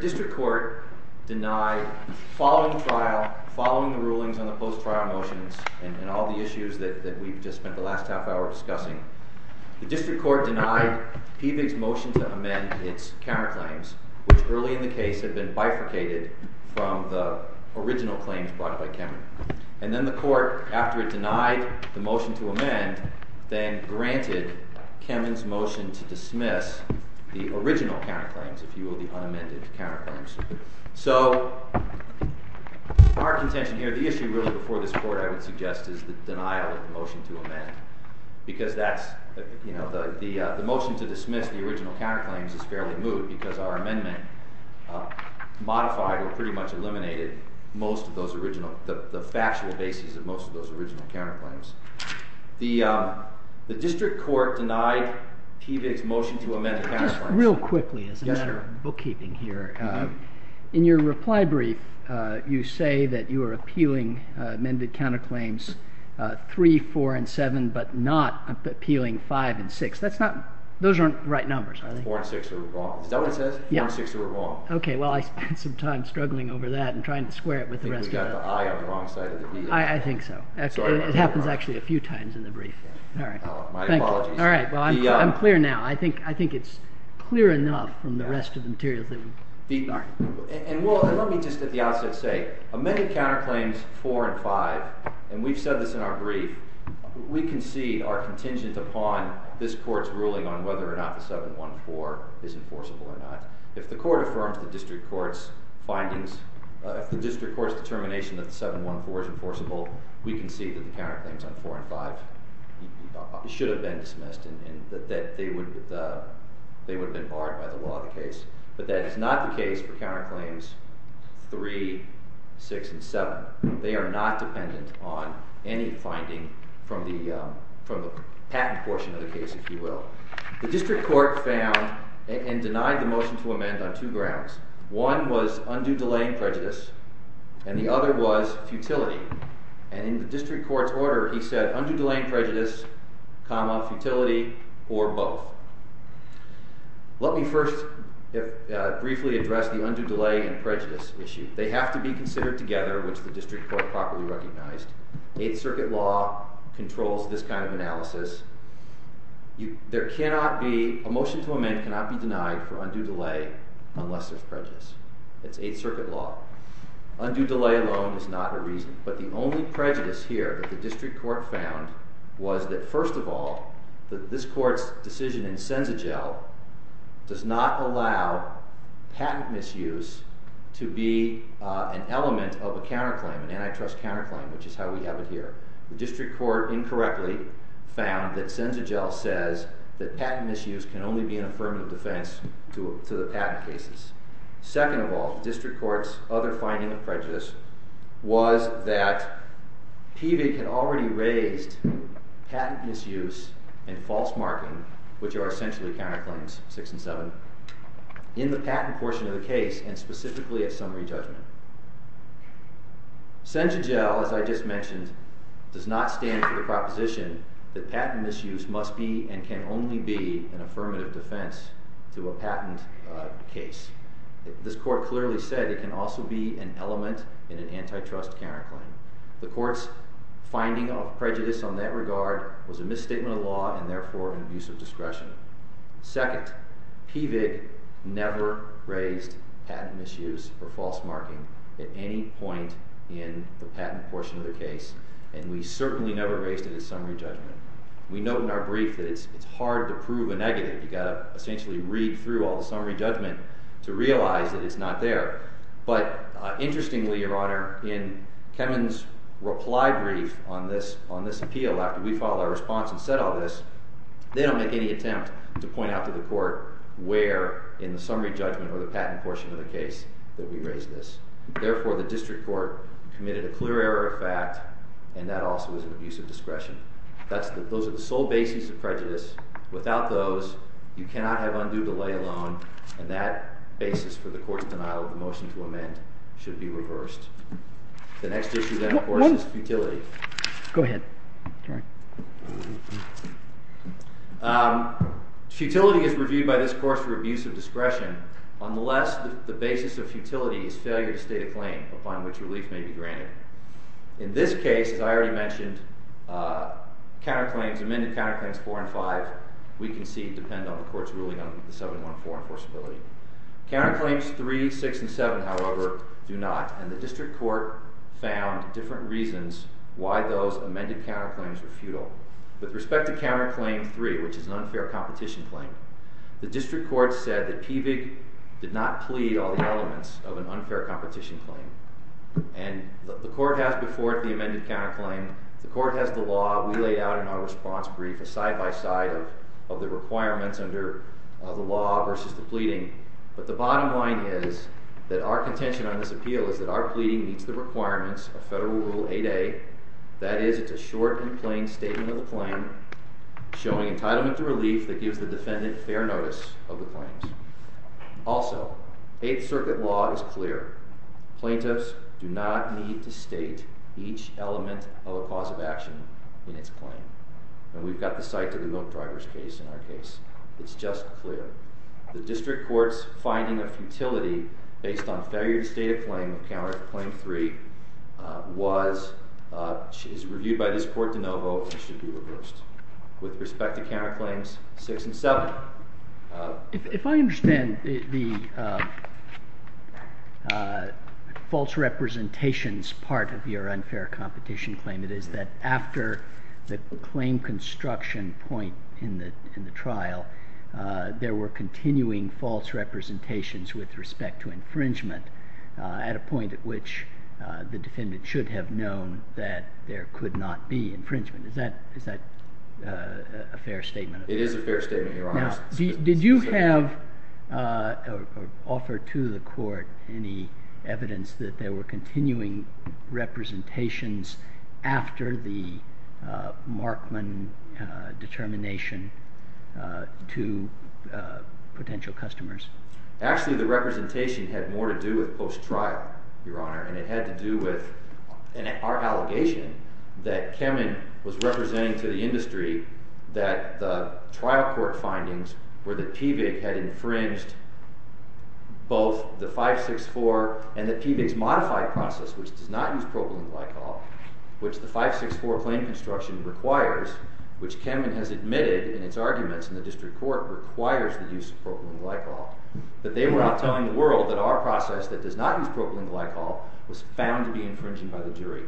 District Court Denied Following Trial, Following the Rulings on the Post-Trial Motions The Court denied Pevig's motion to amend its counterclaims, which early in the case had been bifurcated from the original claims brought by Kemin. And then the Court, after it denied the motion to amend, then granted Kemin's motion to dismiss the original counterclaims, if you will, the unamended counterclaims. So, our contention here, the issue really before this Court, I would suggest, is the denial of the motion to amend. Because that's, you know, the motion to dismiss the original counterclaims is fairly moved because our amendment modified or pretty much eliminated most of those original, the factual basis of most of those original counterclaims. The District Court denied Pevig's motion to amend the counterclaims. Just real quickly, as a matter of bookkeeping here. In your reply brief, you say that you are appealing amended counterclaims 3, 4, and 7, but not appealing 5 and 6. That's not, those aren't right numbers, are they? 4 and 6 are wrong. Is that what it says? 4 and 6 are wrong. Okay, well, I spent some time struggling over that and trying to square it with the rest of it. I think we got the I on the wrong side of the piece. I think so. It happens actually a few times in the brief. My apologies. All right, well, I'm clear now. I think it's clear enough from the rest of the material. And let me just at the outset say, amended counterclaims 4 and 5, and we've said this in our brief, we concede our contingent upon this Court's ruling on whether or not the 714 is enforceable or not. If the Court affirms the District Court's findings, if the District Court's determination that the 714 is enforceable, we concede that the counterclaims on 4 and 5 should have been dismissed and that they would have been barred by the law of the case. But that is not the case for counterclaims 3, 6, and 7. They are not dependent on any finding from the patent portion of the case, if you will. The District Court found and denied the motion to amend on two grounds. One was undue delay and prejudice, and the other was futility. And in the District Court's order, he said undue delay and prejudice, comma, futility, or both. Let me first briefly address the undue delay and prejudice issue. They have to be considered together, which the District Court properly recognized. Eighth Circuit law controls this kind of analysis. A motion to amend cannot be denied for undue delay unless there's prejudice. That's Eighth Circuit law. Undue delay alone is not a reason. But the only prejudice here that the District Court found was that, first of all, this Court's decision in Senzagel does not allow patent misuse to be an element of a counterclaim, an antitrust counterclaim, which is how we have it here. The District Court incorrectly found that Senzagel says that patent misuse can only be an affirmative defense to the patent cases. Second of all, the District Court's other finding of prejudice was that PVIC had already raised patent misuse and false marking, which are essentially counterclaims, 6 and 7, in the patent portion of the case and specifically at summary judgment. Senzagel, as I just mentioned, does not stand for the proposition that patent misuse must be and can only be an affirmative defense to a patent case. This Court clearly said it can also be an element in an antitrust counterclaim. The Court's finding of prejudice on that regard was a misstatement of law and therefore an abuse of discretion. Second, PVIC never raised patent misuse or false marking at any point in the patent portion of the case, and we certainly never raised it at summary judgment. We note in our brief that it's hard to prove a negative. You've got to essentially read through all the summary judgment to realize that it's not there. But interestingly, Your Honor, in Kemen's reply brief on this appeal after we filed our response and said all this, they don't make any attempt to point out to the Court where in the summary judgment or the patent portion of the case that we raised this. Therefore, the District Court committed a clear error of fact, and that also is an abuse of discretion. Those are the sole basis of prejudice. Without those, you cannot have undue delay alone, and that basis for the Court's denial of the motion to amend should be reversed. The next issue, then, of course, is futility. Go ahead. Futility is reviewed by this Court for abuse of discretion unless the basis of futility is failure to state a claim upon which relief may be granted. In this case, as I already mentioned, counterclaims, amended counterclaims 4 and 5, we concede depend on the Court's ruling on the 714 enforceability. Counterclaims 3, 6, and 7, however, do not, and the District Court found different reasons why those amended counterclaims were futile. With respect to counterclaim 3, which is an unfair competition claim, the District Court said that Pevig did not plea all the elements of an unfair competition claim. And the Court has before it the amended counterclaim. The Court has the law we laid out in our response brief, a side-by-side of the requirements under the law versus the pleading. But the bottom line is that our contention on this appeal is that our pleading meets the requirements of Federal Rule 8A. That is, it's a short and plain statement of the claim showing entitlement to relief that gives the defendant fair notice of the claims. Also, Eighth Circuit law is clear. Plaintiffs do not need to state each element of a cause of action in its claim. And we've got the site of the milk driver's case in our case. It's just clear. The District Court's finding of futility based on failure to state a claim of counterclaim 3 was, is reviewed by this Court de novo and should be reversed. With respect to counterclaims 6 and 7. If I understand the false representations part of your unfair competition claim, it is that after the claim construction point in the trial, there were continuing false representations with respect to infringement at a point at which the defendant should have known that there could not be infringement. Is that a fair statement? It is a fair statement, Your Honor. Now, did you have or offer to the Court any evidence that there were continuing representations after the Markman determination to potential customers? Actually, the representation had more to do with post-trial, Your Honor, and it had to do with our allegation that Kamin was representing to the industry that the trial court findings were that PBIG had infringed both the 564 and that PBIG's modified process, which does not use propylene glycol, which the 564 claim construction requires, which Kamin has admitted in its arguments in the District Court requires the use of propylene glycol, that they were out telling the world that our process that does not use propylene glycol was found to be infringing by the jury.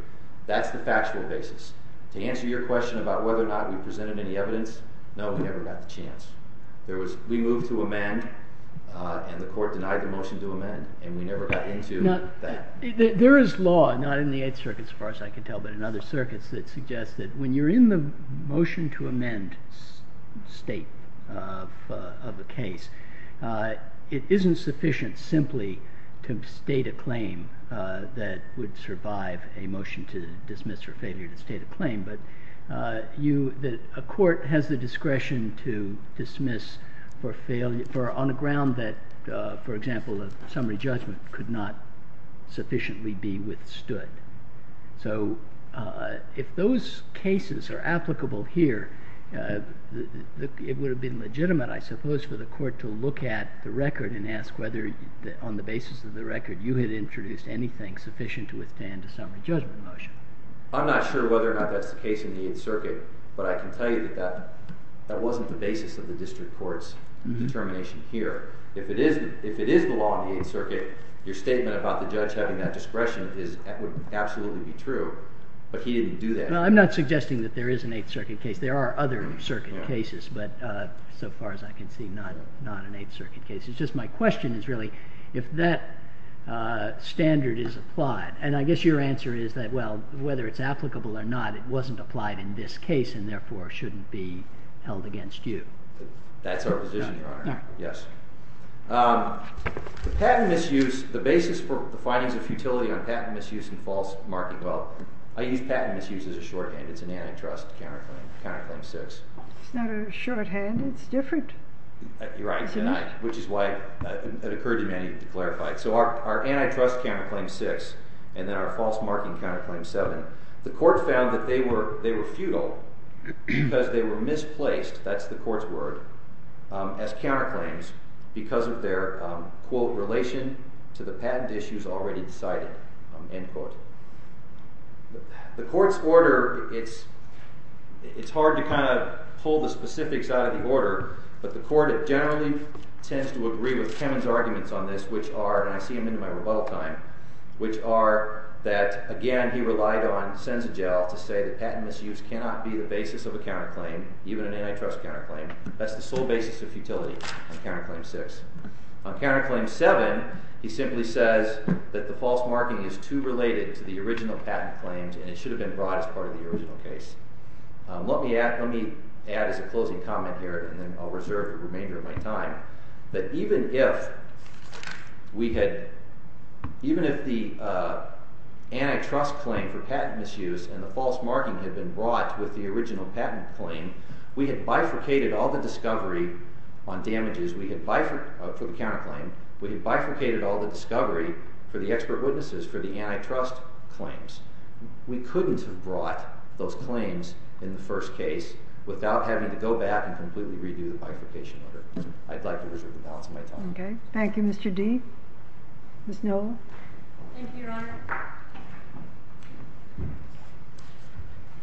That's the factual basis. To answer your question about whether or not we presented any evidence, no, we never got the chance. We moved to amend, and the Court denied the motion to amend, and we never got into that. There is law, not in the Eighth Circuit, as far as I can tell, but in other circuits, that suggests that when you're in the motion to amend state of a case, it isn't sufficient simply to state a claim that would survive a motion to dismiss or failure to state a claim, but a court has the discretion to dismiss on a ground that, for example, a summary judgment could not sufficiently be withstood. So if those cases are applicable here, it would have been legitimate, I suppose, for the court to look at the record and ask whether, on the basis of the record, you had introduced anything sufficient to withstand a summary judgment motion. I'm not sure whether or not that's the case in the Eighth Circuit, but I can tell you that that wasn't the basis of the district court's determination here. If it is the law in the Eighth Circuit, your statement about the judge having that discretion would absolutely be true, but he didn't do that. Well, I'm not suggesting that there is an Eighth Circuit case. There are other circuit cases, but so far as I can see, not an Eighth Circuit case. It's just my question is really if that standard is applied. And I guess your answer is that, well, whether it's applicable or not, it wasn't applied in this case and therefore shouldn't be held against you. That's our position, Your Honor. Yes. The patent misuse, the basis for the findings of futility on patent misuse and false market wealth, I use patent misuse as a shorthand. It's an antitrust counterclaim, counterclaim six. It's not a shorthand. It's different. You're right, which is why it occurred to me I need to clarify it. So our antitrust counterclaim six and then our false marketing counterclaim seven, the court found that they were futile because they were misplaced, that's the court's word, as counterclaims because of their, quote, relation to the patent issues already decided, end quote. The court's order, it's hard to kind of pull the specifics out of the order, but the court generally tends to agree with Kamin's arguments on this, which are, and I see them in my rebuttal time, which are that, again, he relied on Senzigel to say that patent misuse cannot be the basis of a counterclaim, even an antitrust counterclaim. That's the sole basis of futility on counterclaim six. On counterclaim seven, he simply says that the false marking is too related to the original patent claims, and it should have been brought as part of the original case. Let me add as a closing comment here, and then I'll reserve the remainder of my time, that even if we had, even if the antitrust claim for patent misuse and the false marking had been brought with the original patent claim, we had bifurcated all the discovery on damages, we had bifurcated, for the counterclaim, we had bifurcated all the discovery for the expert witnesses for the antitrust claims. We couldn't have brought those claims in the first case without having to go back and completely redo the bifurcation order. I'd like to reserve the balance of my time. Okay. Thank you, Mr. D. Ms. Nova? Thank you, Your Honor.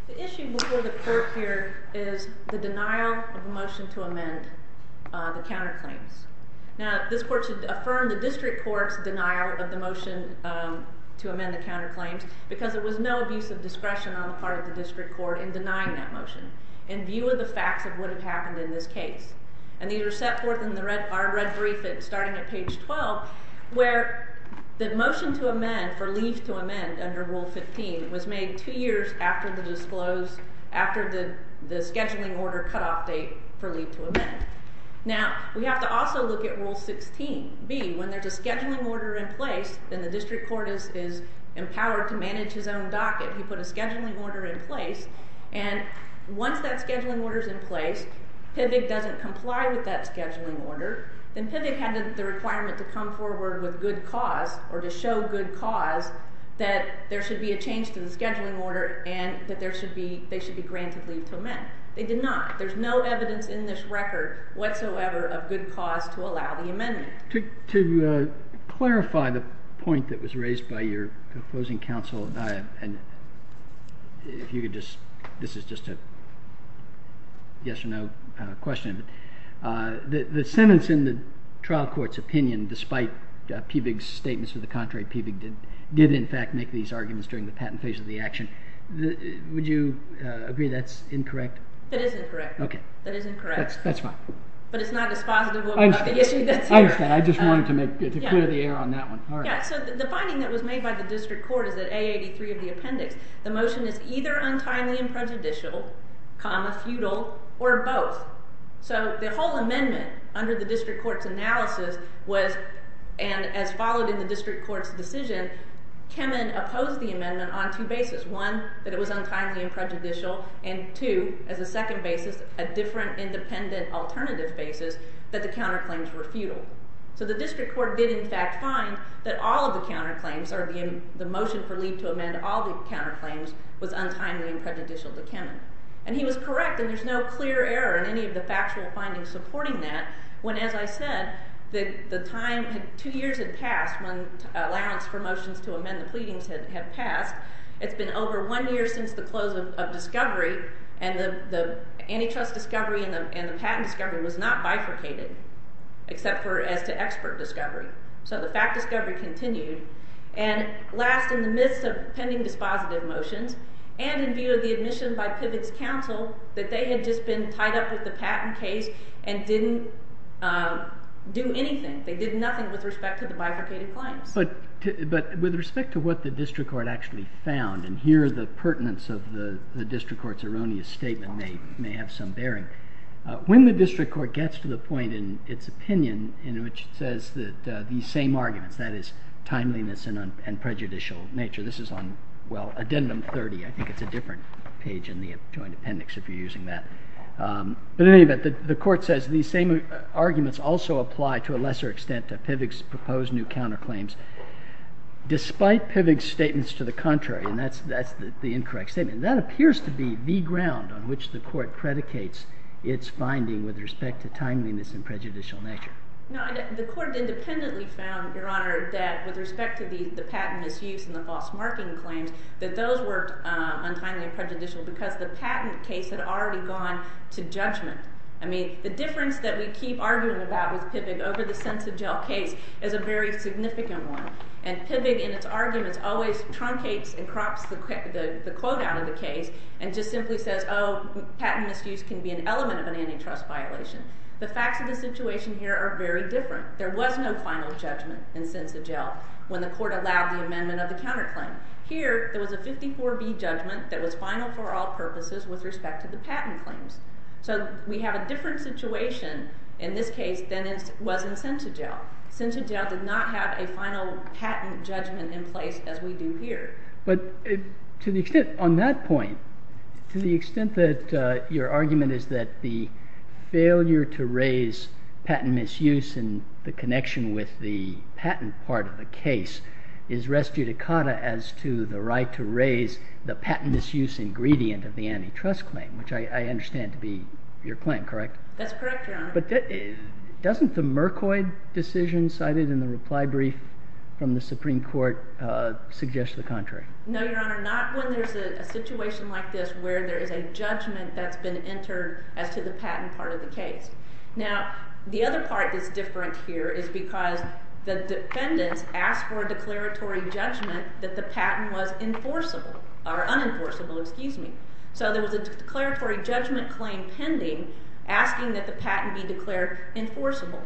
The issue before the court here is the denial of a motion to amend the counterclaims. Now, this court should affirm the district court's denial of the motion to amend the counterclaims because there was no abuse of discretion on the part of the district court in denying that motion, in view of the facts of what had happened in this case. And these were set forth in our red brief starting at page 12, where the motion to amend for leave to amend under Rule 15 was made two years after the disclose, after the scheduling order cutoff date for leave to amend. Now, we have to also look at Rule 16b. When there's a scheduling order in place, then the district court is empowered to manage his own docket. He put a scheduling order in place, and once that scheduling order's in place, PIVG doesn't comply with that scheduling order. Then PIVG had the requirement to come forward with good cause or to show good cause that there should be a change to the scheduling order and that they should be granted leave to amend. They did not. There's no evidence in this record whatsoever of good cause to allow the amendment. To clarify the point that was raised by your opposing counsel, and if you could just, this is just a yes or no question, the sentence in the trial court's opinion, despite PIVG's statements to the contrary, PIVG did in fact make these arguments during the patent phase of the action. Would you agree that's incorrect? It is incorrect. Okay. That is incorrect. That's fine. But it's not as positive. I understand. I just wanted to clear the air on that one. So the finding that was made by the district court is that A83 of the appendix, the motion is either untimely and prejudicial, comma, feudal, or both. So the whole amendment under the district court's analysis was, and as followed in the district court's decision, Kemen opposed the amendment on two bases. One, that it was untimely and prejudicial, and two, as a second basis, a different independent alternative basis, that the counterclaims were feudal. So the district court did in fact find that all of the counterclaims, the motion for leave to amend all the counterclaims, was untimely and prejudicial to Kemen. And he was correct, and there's no clear error in any of the factual findings supporting that, when, as I said, the time, two years had passed when allowance for motions to amend the pleadings had passed. It's been over one year since the close of discovery, and the antitrust discovery and the patent discovery was not bifurcated, except for as to expert discovery. So the fact discovery continued. And last, in the midst of pending dispositive motions, and in view of the admission by PIVX counsel that they had just been tied up with the patent case and didn't do anything, they did nothing with respect to the bifurcated claims. But with respect to what the district court actually found, and here the pertinence of the district court's erroneous statement may have some bearing. When the district court gets to the point in its opinion in which it says that these same arguments, that is, timeliness and prejudicial nature, this is on, well, addendum 30. I think it's a different page in the joint appendix if you're using that. But in any event, the court says these same arguments also apply to a lesser extent to PIVX's proposed new counterclaims, despite PIVX's statements to the contrary, and that's the incorrect statement. That appears to be the ground on which the court predicates its finding with respect to timeliness and prejudicial nature. No, the court independently found, Your Honor, that with respect to the patent misuse and the false marking claims, that those were untimely and prejudicial because the patent case had already gone to judgment. I mean, the difference that we keep arguing about with PIVX over the sense of jail case is a very significant one. And PIVX in its arguments always truncates and crops the quote out of the case and just simply says, Oh, patent misuse can be an element of an antitrust violation. The facts of the situation here are very different. There was no final judgment in sense of jail when the court allowed the amendment of the counterclaim. Here, there was a 54B judgment that was final for all purposes with respect to the patent claims. So we have a different situation in this case than it was in sense of jail. Sense of jail did not have a final patent judgment in place as we do here. But to the extent on that point, to the extent that your argument is that the failure to raise patent misuse and the connection with the patent part of the case is res judicata as to the right to raise the patent misuse ingredient of the antitrust claim, which I understand to be your claim, correct? That's correct, Your Honor. But doesn't the Mercoid decision cited in the reply brief from the Supreme Court suggest the contrary? No, Your Honor. Not when there's a situation like this where there is a judgment that's been entered as to the patent part of the case. Now, the other part that's different here is because the defendants asked for a declaratory judgment that the patent was enforceable or unenforceable, excuse me. So there was a declaratory judgment claim pending asking that the patent be declared enforceable.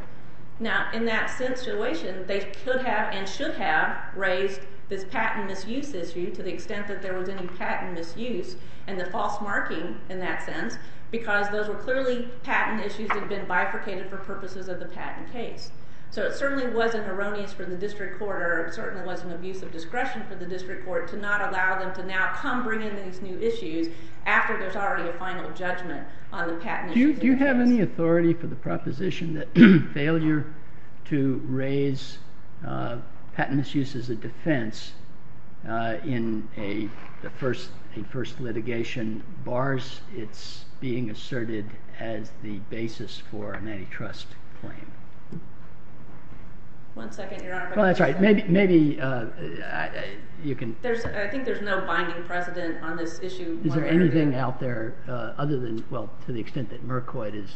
Now, in that situation, they could have and should have raised this patent misuse issue to the extent that there was any patent misuse and the false marking in that sense because those were clearly patent issues that had been bifurcated for purposes of the patent case. So it certainly wasn't erroneous for the district court or it certainly wasn't abuse of discretion for the district court to not allow them to now come bring in these new issues after there's already a final judgment on the patent misuse. Do you have any authority for the proposition that failure to raise patent misuse as a defense in a first litigation bars its being asserted as the basis for an antitrust claim? One second, Your Honor. Well, that's right. Maybe you can... I think there's no binding precedent on this issue. Is there anything out there other than, well, to the extent that Mercoid is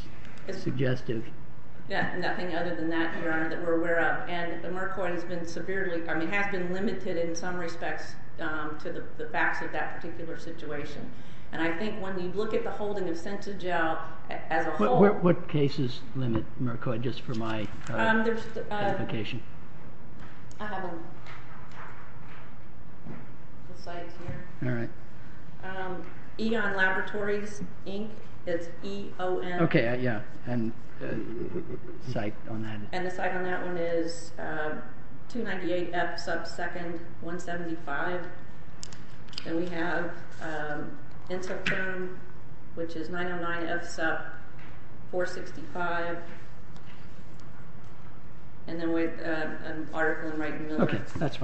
suggestive? Yeah, nothing other than that, Your Honor, that we're aware of. And the Mercoid has been severely, I mean, has been limited in some respects to the facts of that particular situation. And I think when you look at the holding of SensaGel as a whole... What cases limit Mercoid, just for my clarification? All right. Eon Laboratories, Inc. It's E-O-N. Okay, yeah. And the site on that? And the site on that one is 298 F. Sub. 2nd. 175. And we have Intercom, which is 909 F. Sub. 465. And then we have an article in Wright & Miller as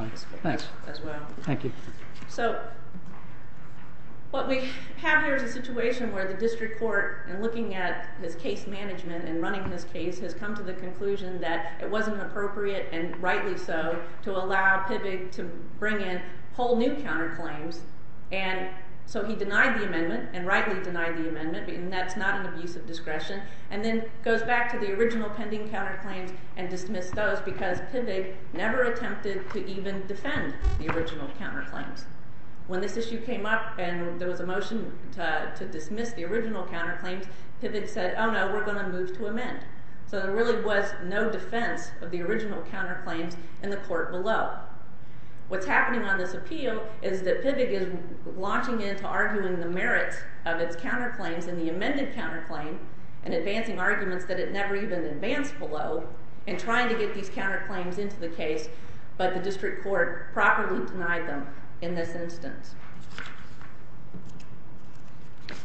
well. Thank you. So what we have here is a situation where the district court, in looking at his case management and running his case, has come to the conclusion that it wasn't appropriate, and rightly so, to allow PIVG to bring in whole new counterclaims. And so he denied the amendment, and rightly denied the amendment, and that's not an abuse of discretion, and then goes back to the original pending counterclaims and dismissed those because PIVG never attempted to even defend the original counterclaims. When this issue came up and there was a motion to dismiss the original counterclaims, PIVG said, oh no, we're going to move to amend. So there really was no defense of the original counterclaims in the court below. What's happening on this appeal is that PIVG is launching into arguing the merits of its counterclaims in the amended counterclaim and advancing arguments that it never even advanced below in trying to get these counterclaims into the case, but the district court properly denied them in this instance.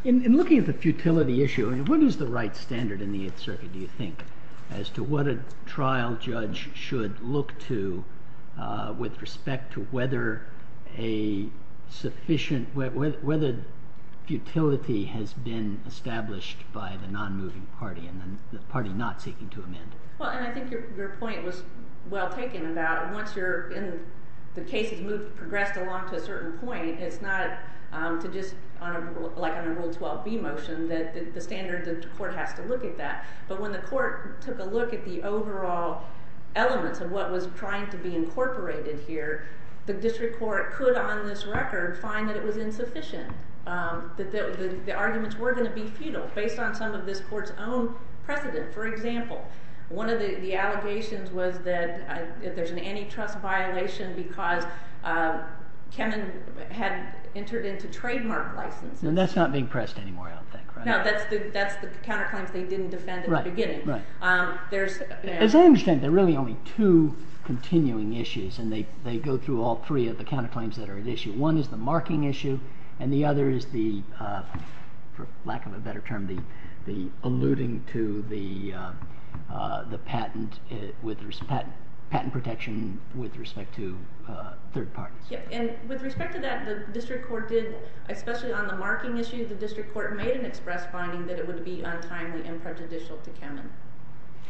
In looking at the futility issue, what is the right standard in the Eighth Circuit, do you think, as to what a trial judge should look to with respect to whether the futility has been established by the non-moving party and the party not seeking to amend? I think your point was well taken about once the case has progressed along to a certain point, it's not just like on a Rule 12b motion that the standards of the court has to look at that. But when the court took a look at the overall elements of what was trying to be incorporated here, the district court could on this record find that it was insufficient, that the arguments were going to be futile based on some of this court's own precedent, for example. One of the allegations was that there's an antitrust violation because Kennan had entered into trademark licenses. And that's not being pressed anymore, I don't think, right? No, that's the counterclaims they didn't defend at the beginning. Right, right. As I understand, there are really only two continuing issues and they go through all three of the counterclaims that are at issue. One is the marking issue and the other is the, for lack of a better term, the alluding to the patent protection with respect to third parties. And with respect to that, the district court did, especially on the marking issue, the district court made an express finding that it would be untimely and prejudicial to Kennan.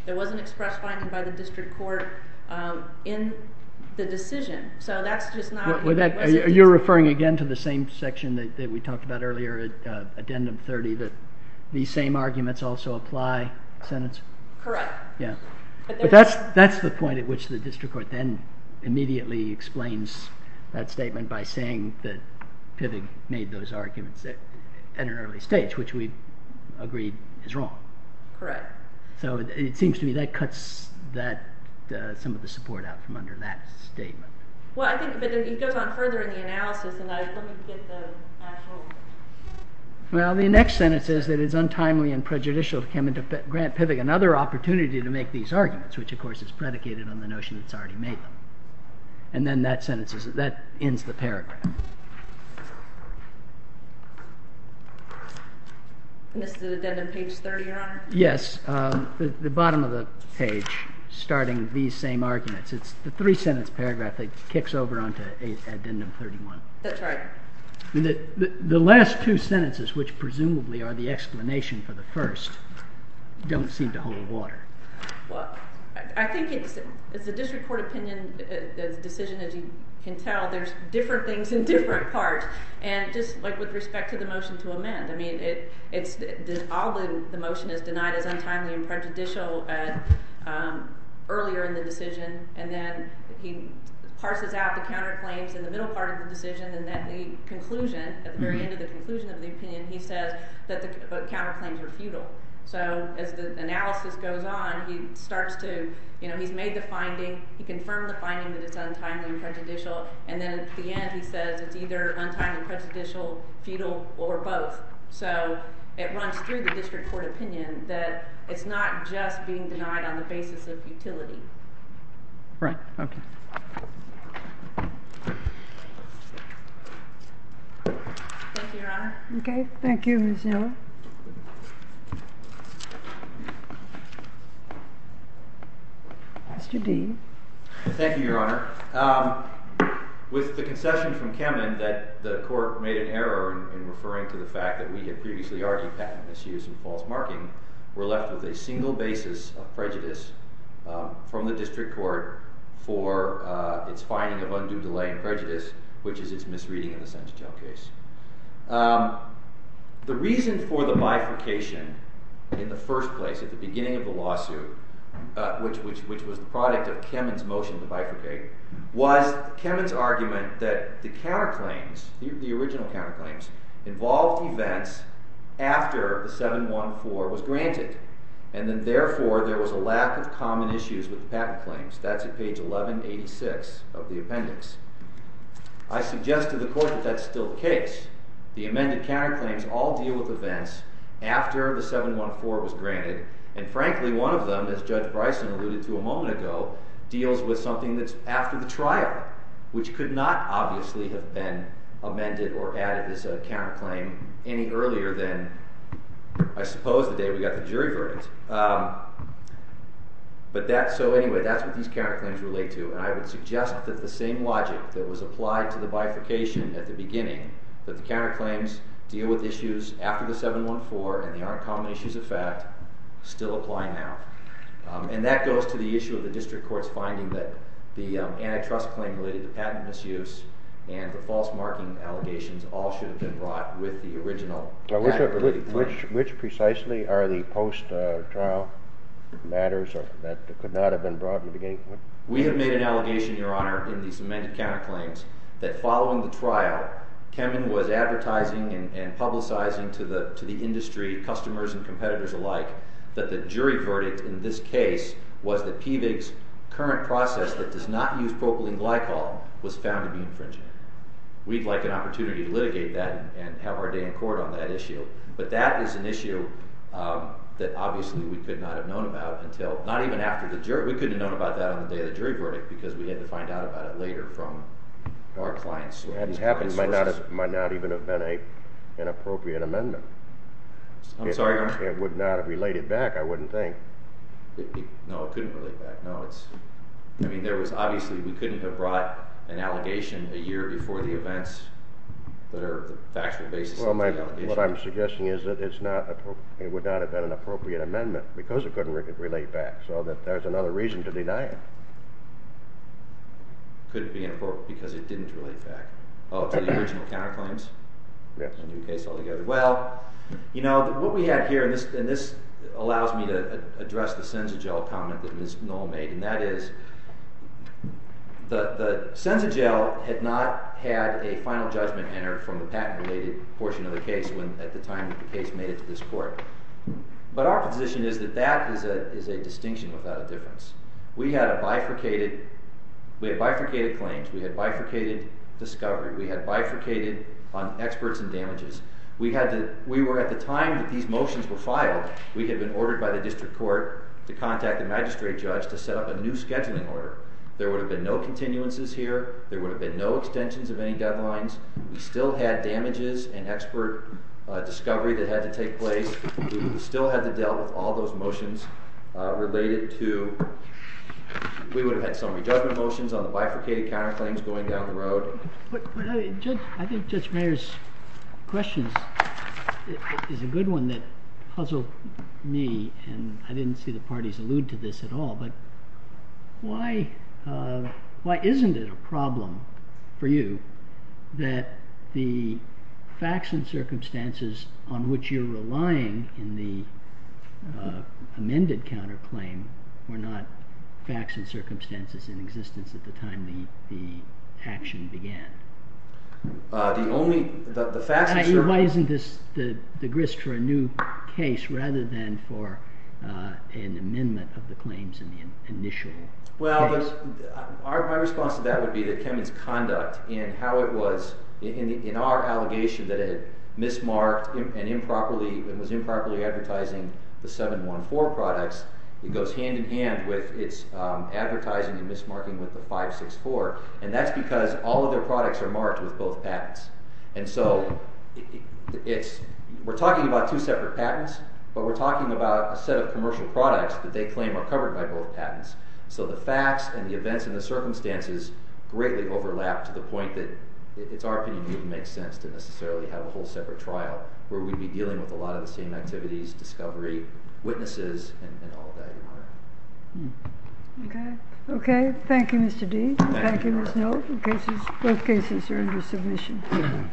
There was an express finding by the district court in the decision, so that's just not... Are you referring again to the same section that we talked about earlier, Addendum 30, that these same arguments also apply in the sentence? Correct. Yeah. But that's the point at which the district court then immediately explains that statement by saying that Pivig made those arguments at an early stage, which we agreed is wrong. Correct. So it seems to me that cuts some of the support out from under that statement. Well, I think, but it goes on further in the analysis, and let me get the actual... Well, the next sentence says that it's untimely and prejudicial to come into grant Pivig another opportunity to make these arguments, which, of course, is predicated on the notion it's already made them. And then that sentence, that ends the paragraph. And this is Addendum page 30, Your Honor? Yes. The bottom of the page, starting these same arguments, it's the three-sentence paragraph that kicks over onto Addendum 31. That's right. The last two sentences, which presumably are the explanation for the first, don't seem to hold water. Well, I think it's a district court opinion decision. As you can tell, there's different things in different parts. And just, like, with respect to the motion to amend, I mean, all the motion is denied as untimely and prejudicial earlier in the decision. And then he parses out the counterclaims in the middle part of the decision, and at the conclusion, at the very end of the conclusion of the opinion, he says that the counterclaims were futile. So as the analysis goes on, he starts to, you know, he's made the finding, he confirmed the finding that it's untimely and prejudicial, and then at the end he says it's either untimely and prejudicial, futile, or both. So it runs through the district court opinion that it's not just being denied on the basis of futility. Right. Okay. Thank you, Your Honor. Okay. Thank you, Ms. Yeller. Mr. D. Thank you, Your Honor. With the concession from Kemen that the court made an error in referring to the fact that we had previously argued patent misuse and false marking, we're left with a single basis of prejudice from the district court for its finding of undue delay in prejudice, which is its misreading in the Sessions Jail case. The reason for the bifurcation in the first place, at the beginning of the lawsuit, which was the product of Kemen's motion to bifurcate, was Kemen's argument that the counterclaims, the original counterclaims, involved events after the 714 was granted, and then therefore there was a lack of common issues with the patent claims. That's at page 1186 of the appendix. I suggest to the court that that's still the case. The amended counterclaims all deal with events after the 714 was granted, and frankly one of them, as Judge Bryson alluded to a moment ago, deals with something that's after the trial, which could not obviously have been amended or added as a counterclaim any earlier than, I suppose, the day we got the jury verdict. But that's what these counterclaims relate to, and I would suggest that the same logic that was applied to the bifurcation at the beginning, that the counterclaims deal with issues after the 714 and the uncommon issues of fact, still apply now. And that goes to the issue of the district court's finding that the antitrust claim related to patent misuse and the false marking allegations all should have been brought with the original patent related claims. Which precisely are the post-trial matters that could not have been brought in the beginning? We have made an allegation, Your Honor, in these amended counterclaims, that following the trial, Kemen was advertising and publicizing to the industry, customers and competitors alike, that the jury verdict in this case was that PVIG's current process that does not use propylene glycol was found to be infringing. We'd like an opportunity to litigate that and have our day in court on that issue. But that is an issue that obviously we could not have known about until, not even after the jury, we couldn't have known about that on the day of the jury verdict because we had to find out about it later from our clients. It might not even have been an appropriate amendment. I'm sorry, Your Honor? It would not have related back, I wouldn't think. No, it couldn't relate back. No, it's... I mean, there was obviously... We couldn't have brought an allegation a year before the events that are the factual basis of the allegation. What I'm suggesting is that it's not... It would not have been an appropriate amendment because it couldn't relate back. So there's another reason to deny it. Could it be inappropriate because it didn't relate back? Oh, to the original counterclaims? Yes. A new case altogether. Well, you know, what we have here, and this allows me to address the Senzagel comment that Ms. Knoll made, and that is the Senzagel had not had a final judgment entered from the patent-related portion of the case when, at the time, the case made it to this court. But our position is that that is a distinction without a difference. We had a bifurcated... We had bifurcated claims. We had bifurcated discovery. We had bifurcated on experts and damages. We were, at the time that these motions were filed, we had been ordered by the district court to contact the magistrate judge to set up a new scheduling order. There would have been no continuances here. There would have been no extensions of any deadlines. We still had damages and expert discovery that had to take place. We still had to deal with all those motions related to... We would have had summary judgment motions on the bifurcated counterclaims going down the road. But, Judge, I think Judge Mayer's question is a good one that puzzled me, and I didn't see the parties allude to this at all, but why isn't it a problem for you that the facts and circumstances on which you're relying in the amended counterclaim were not facts and circumstances in existence at the time the action began? The facts and circumstances... Why isn't this the grist for a new case rather than for an amendment of the claims in the initial case? Well, my response to that would be that Kemin's conduct and how it was... In our allegation that it had mismarked and was improperly advertising the 714 products, it goes hand-in-hand with its advertising and mismarking with the 564, and that's because all of their products are marked with both patents. And so we're talking about two separate patents, but we're talking about a set of commercial products that they claim are covered by both patents. So the facts and the events and the circumstances greatly overlap to the point that, in our opinion, it wouldn't make sense to necessarily have a whole separate trial where we'd be dealing with a lot of the same activities, discovery, witnesses, and all of that. Okay. Okay. Thank you, Mr. Deese. Thank you, Ms. Knoll. Both cases are under submission.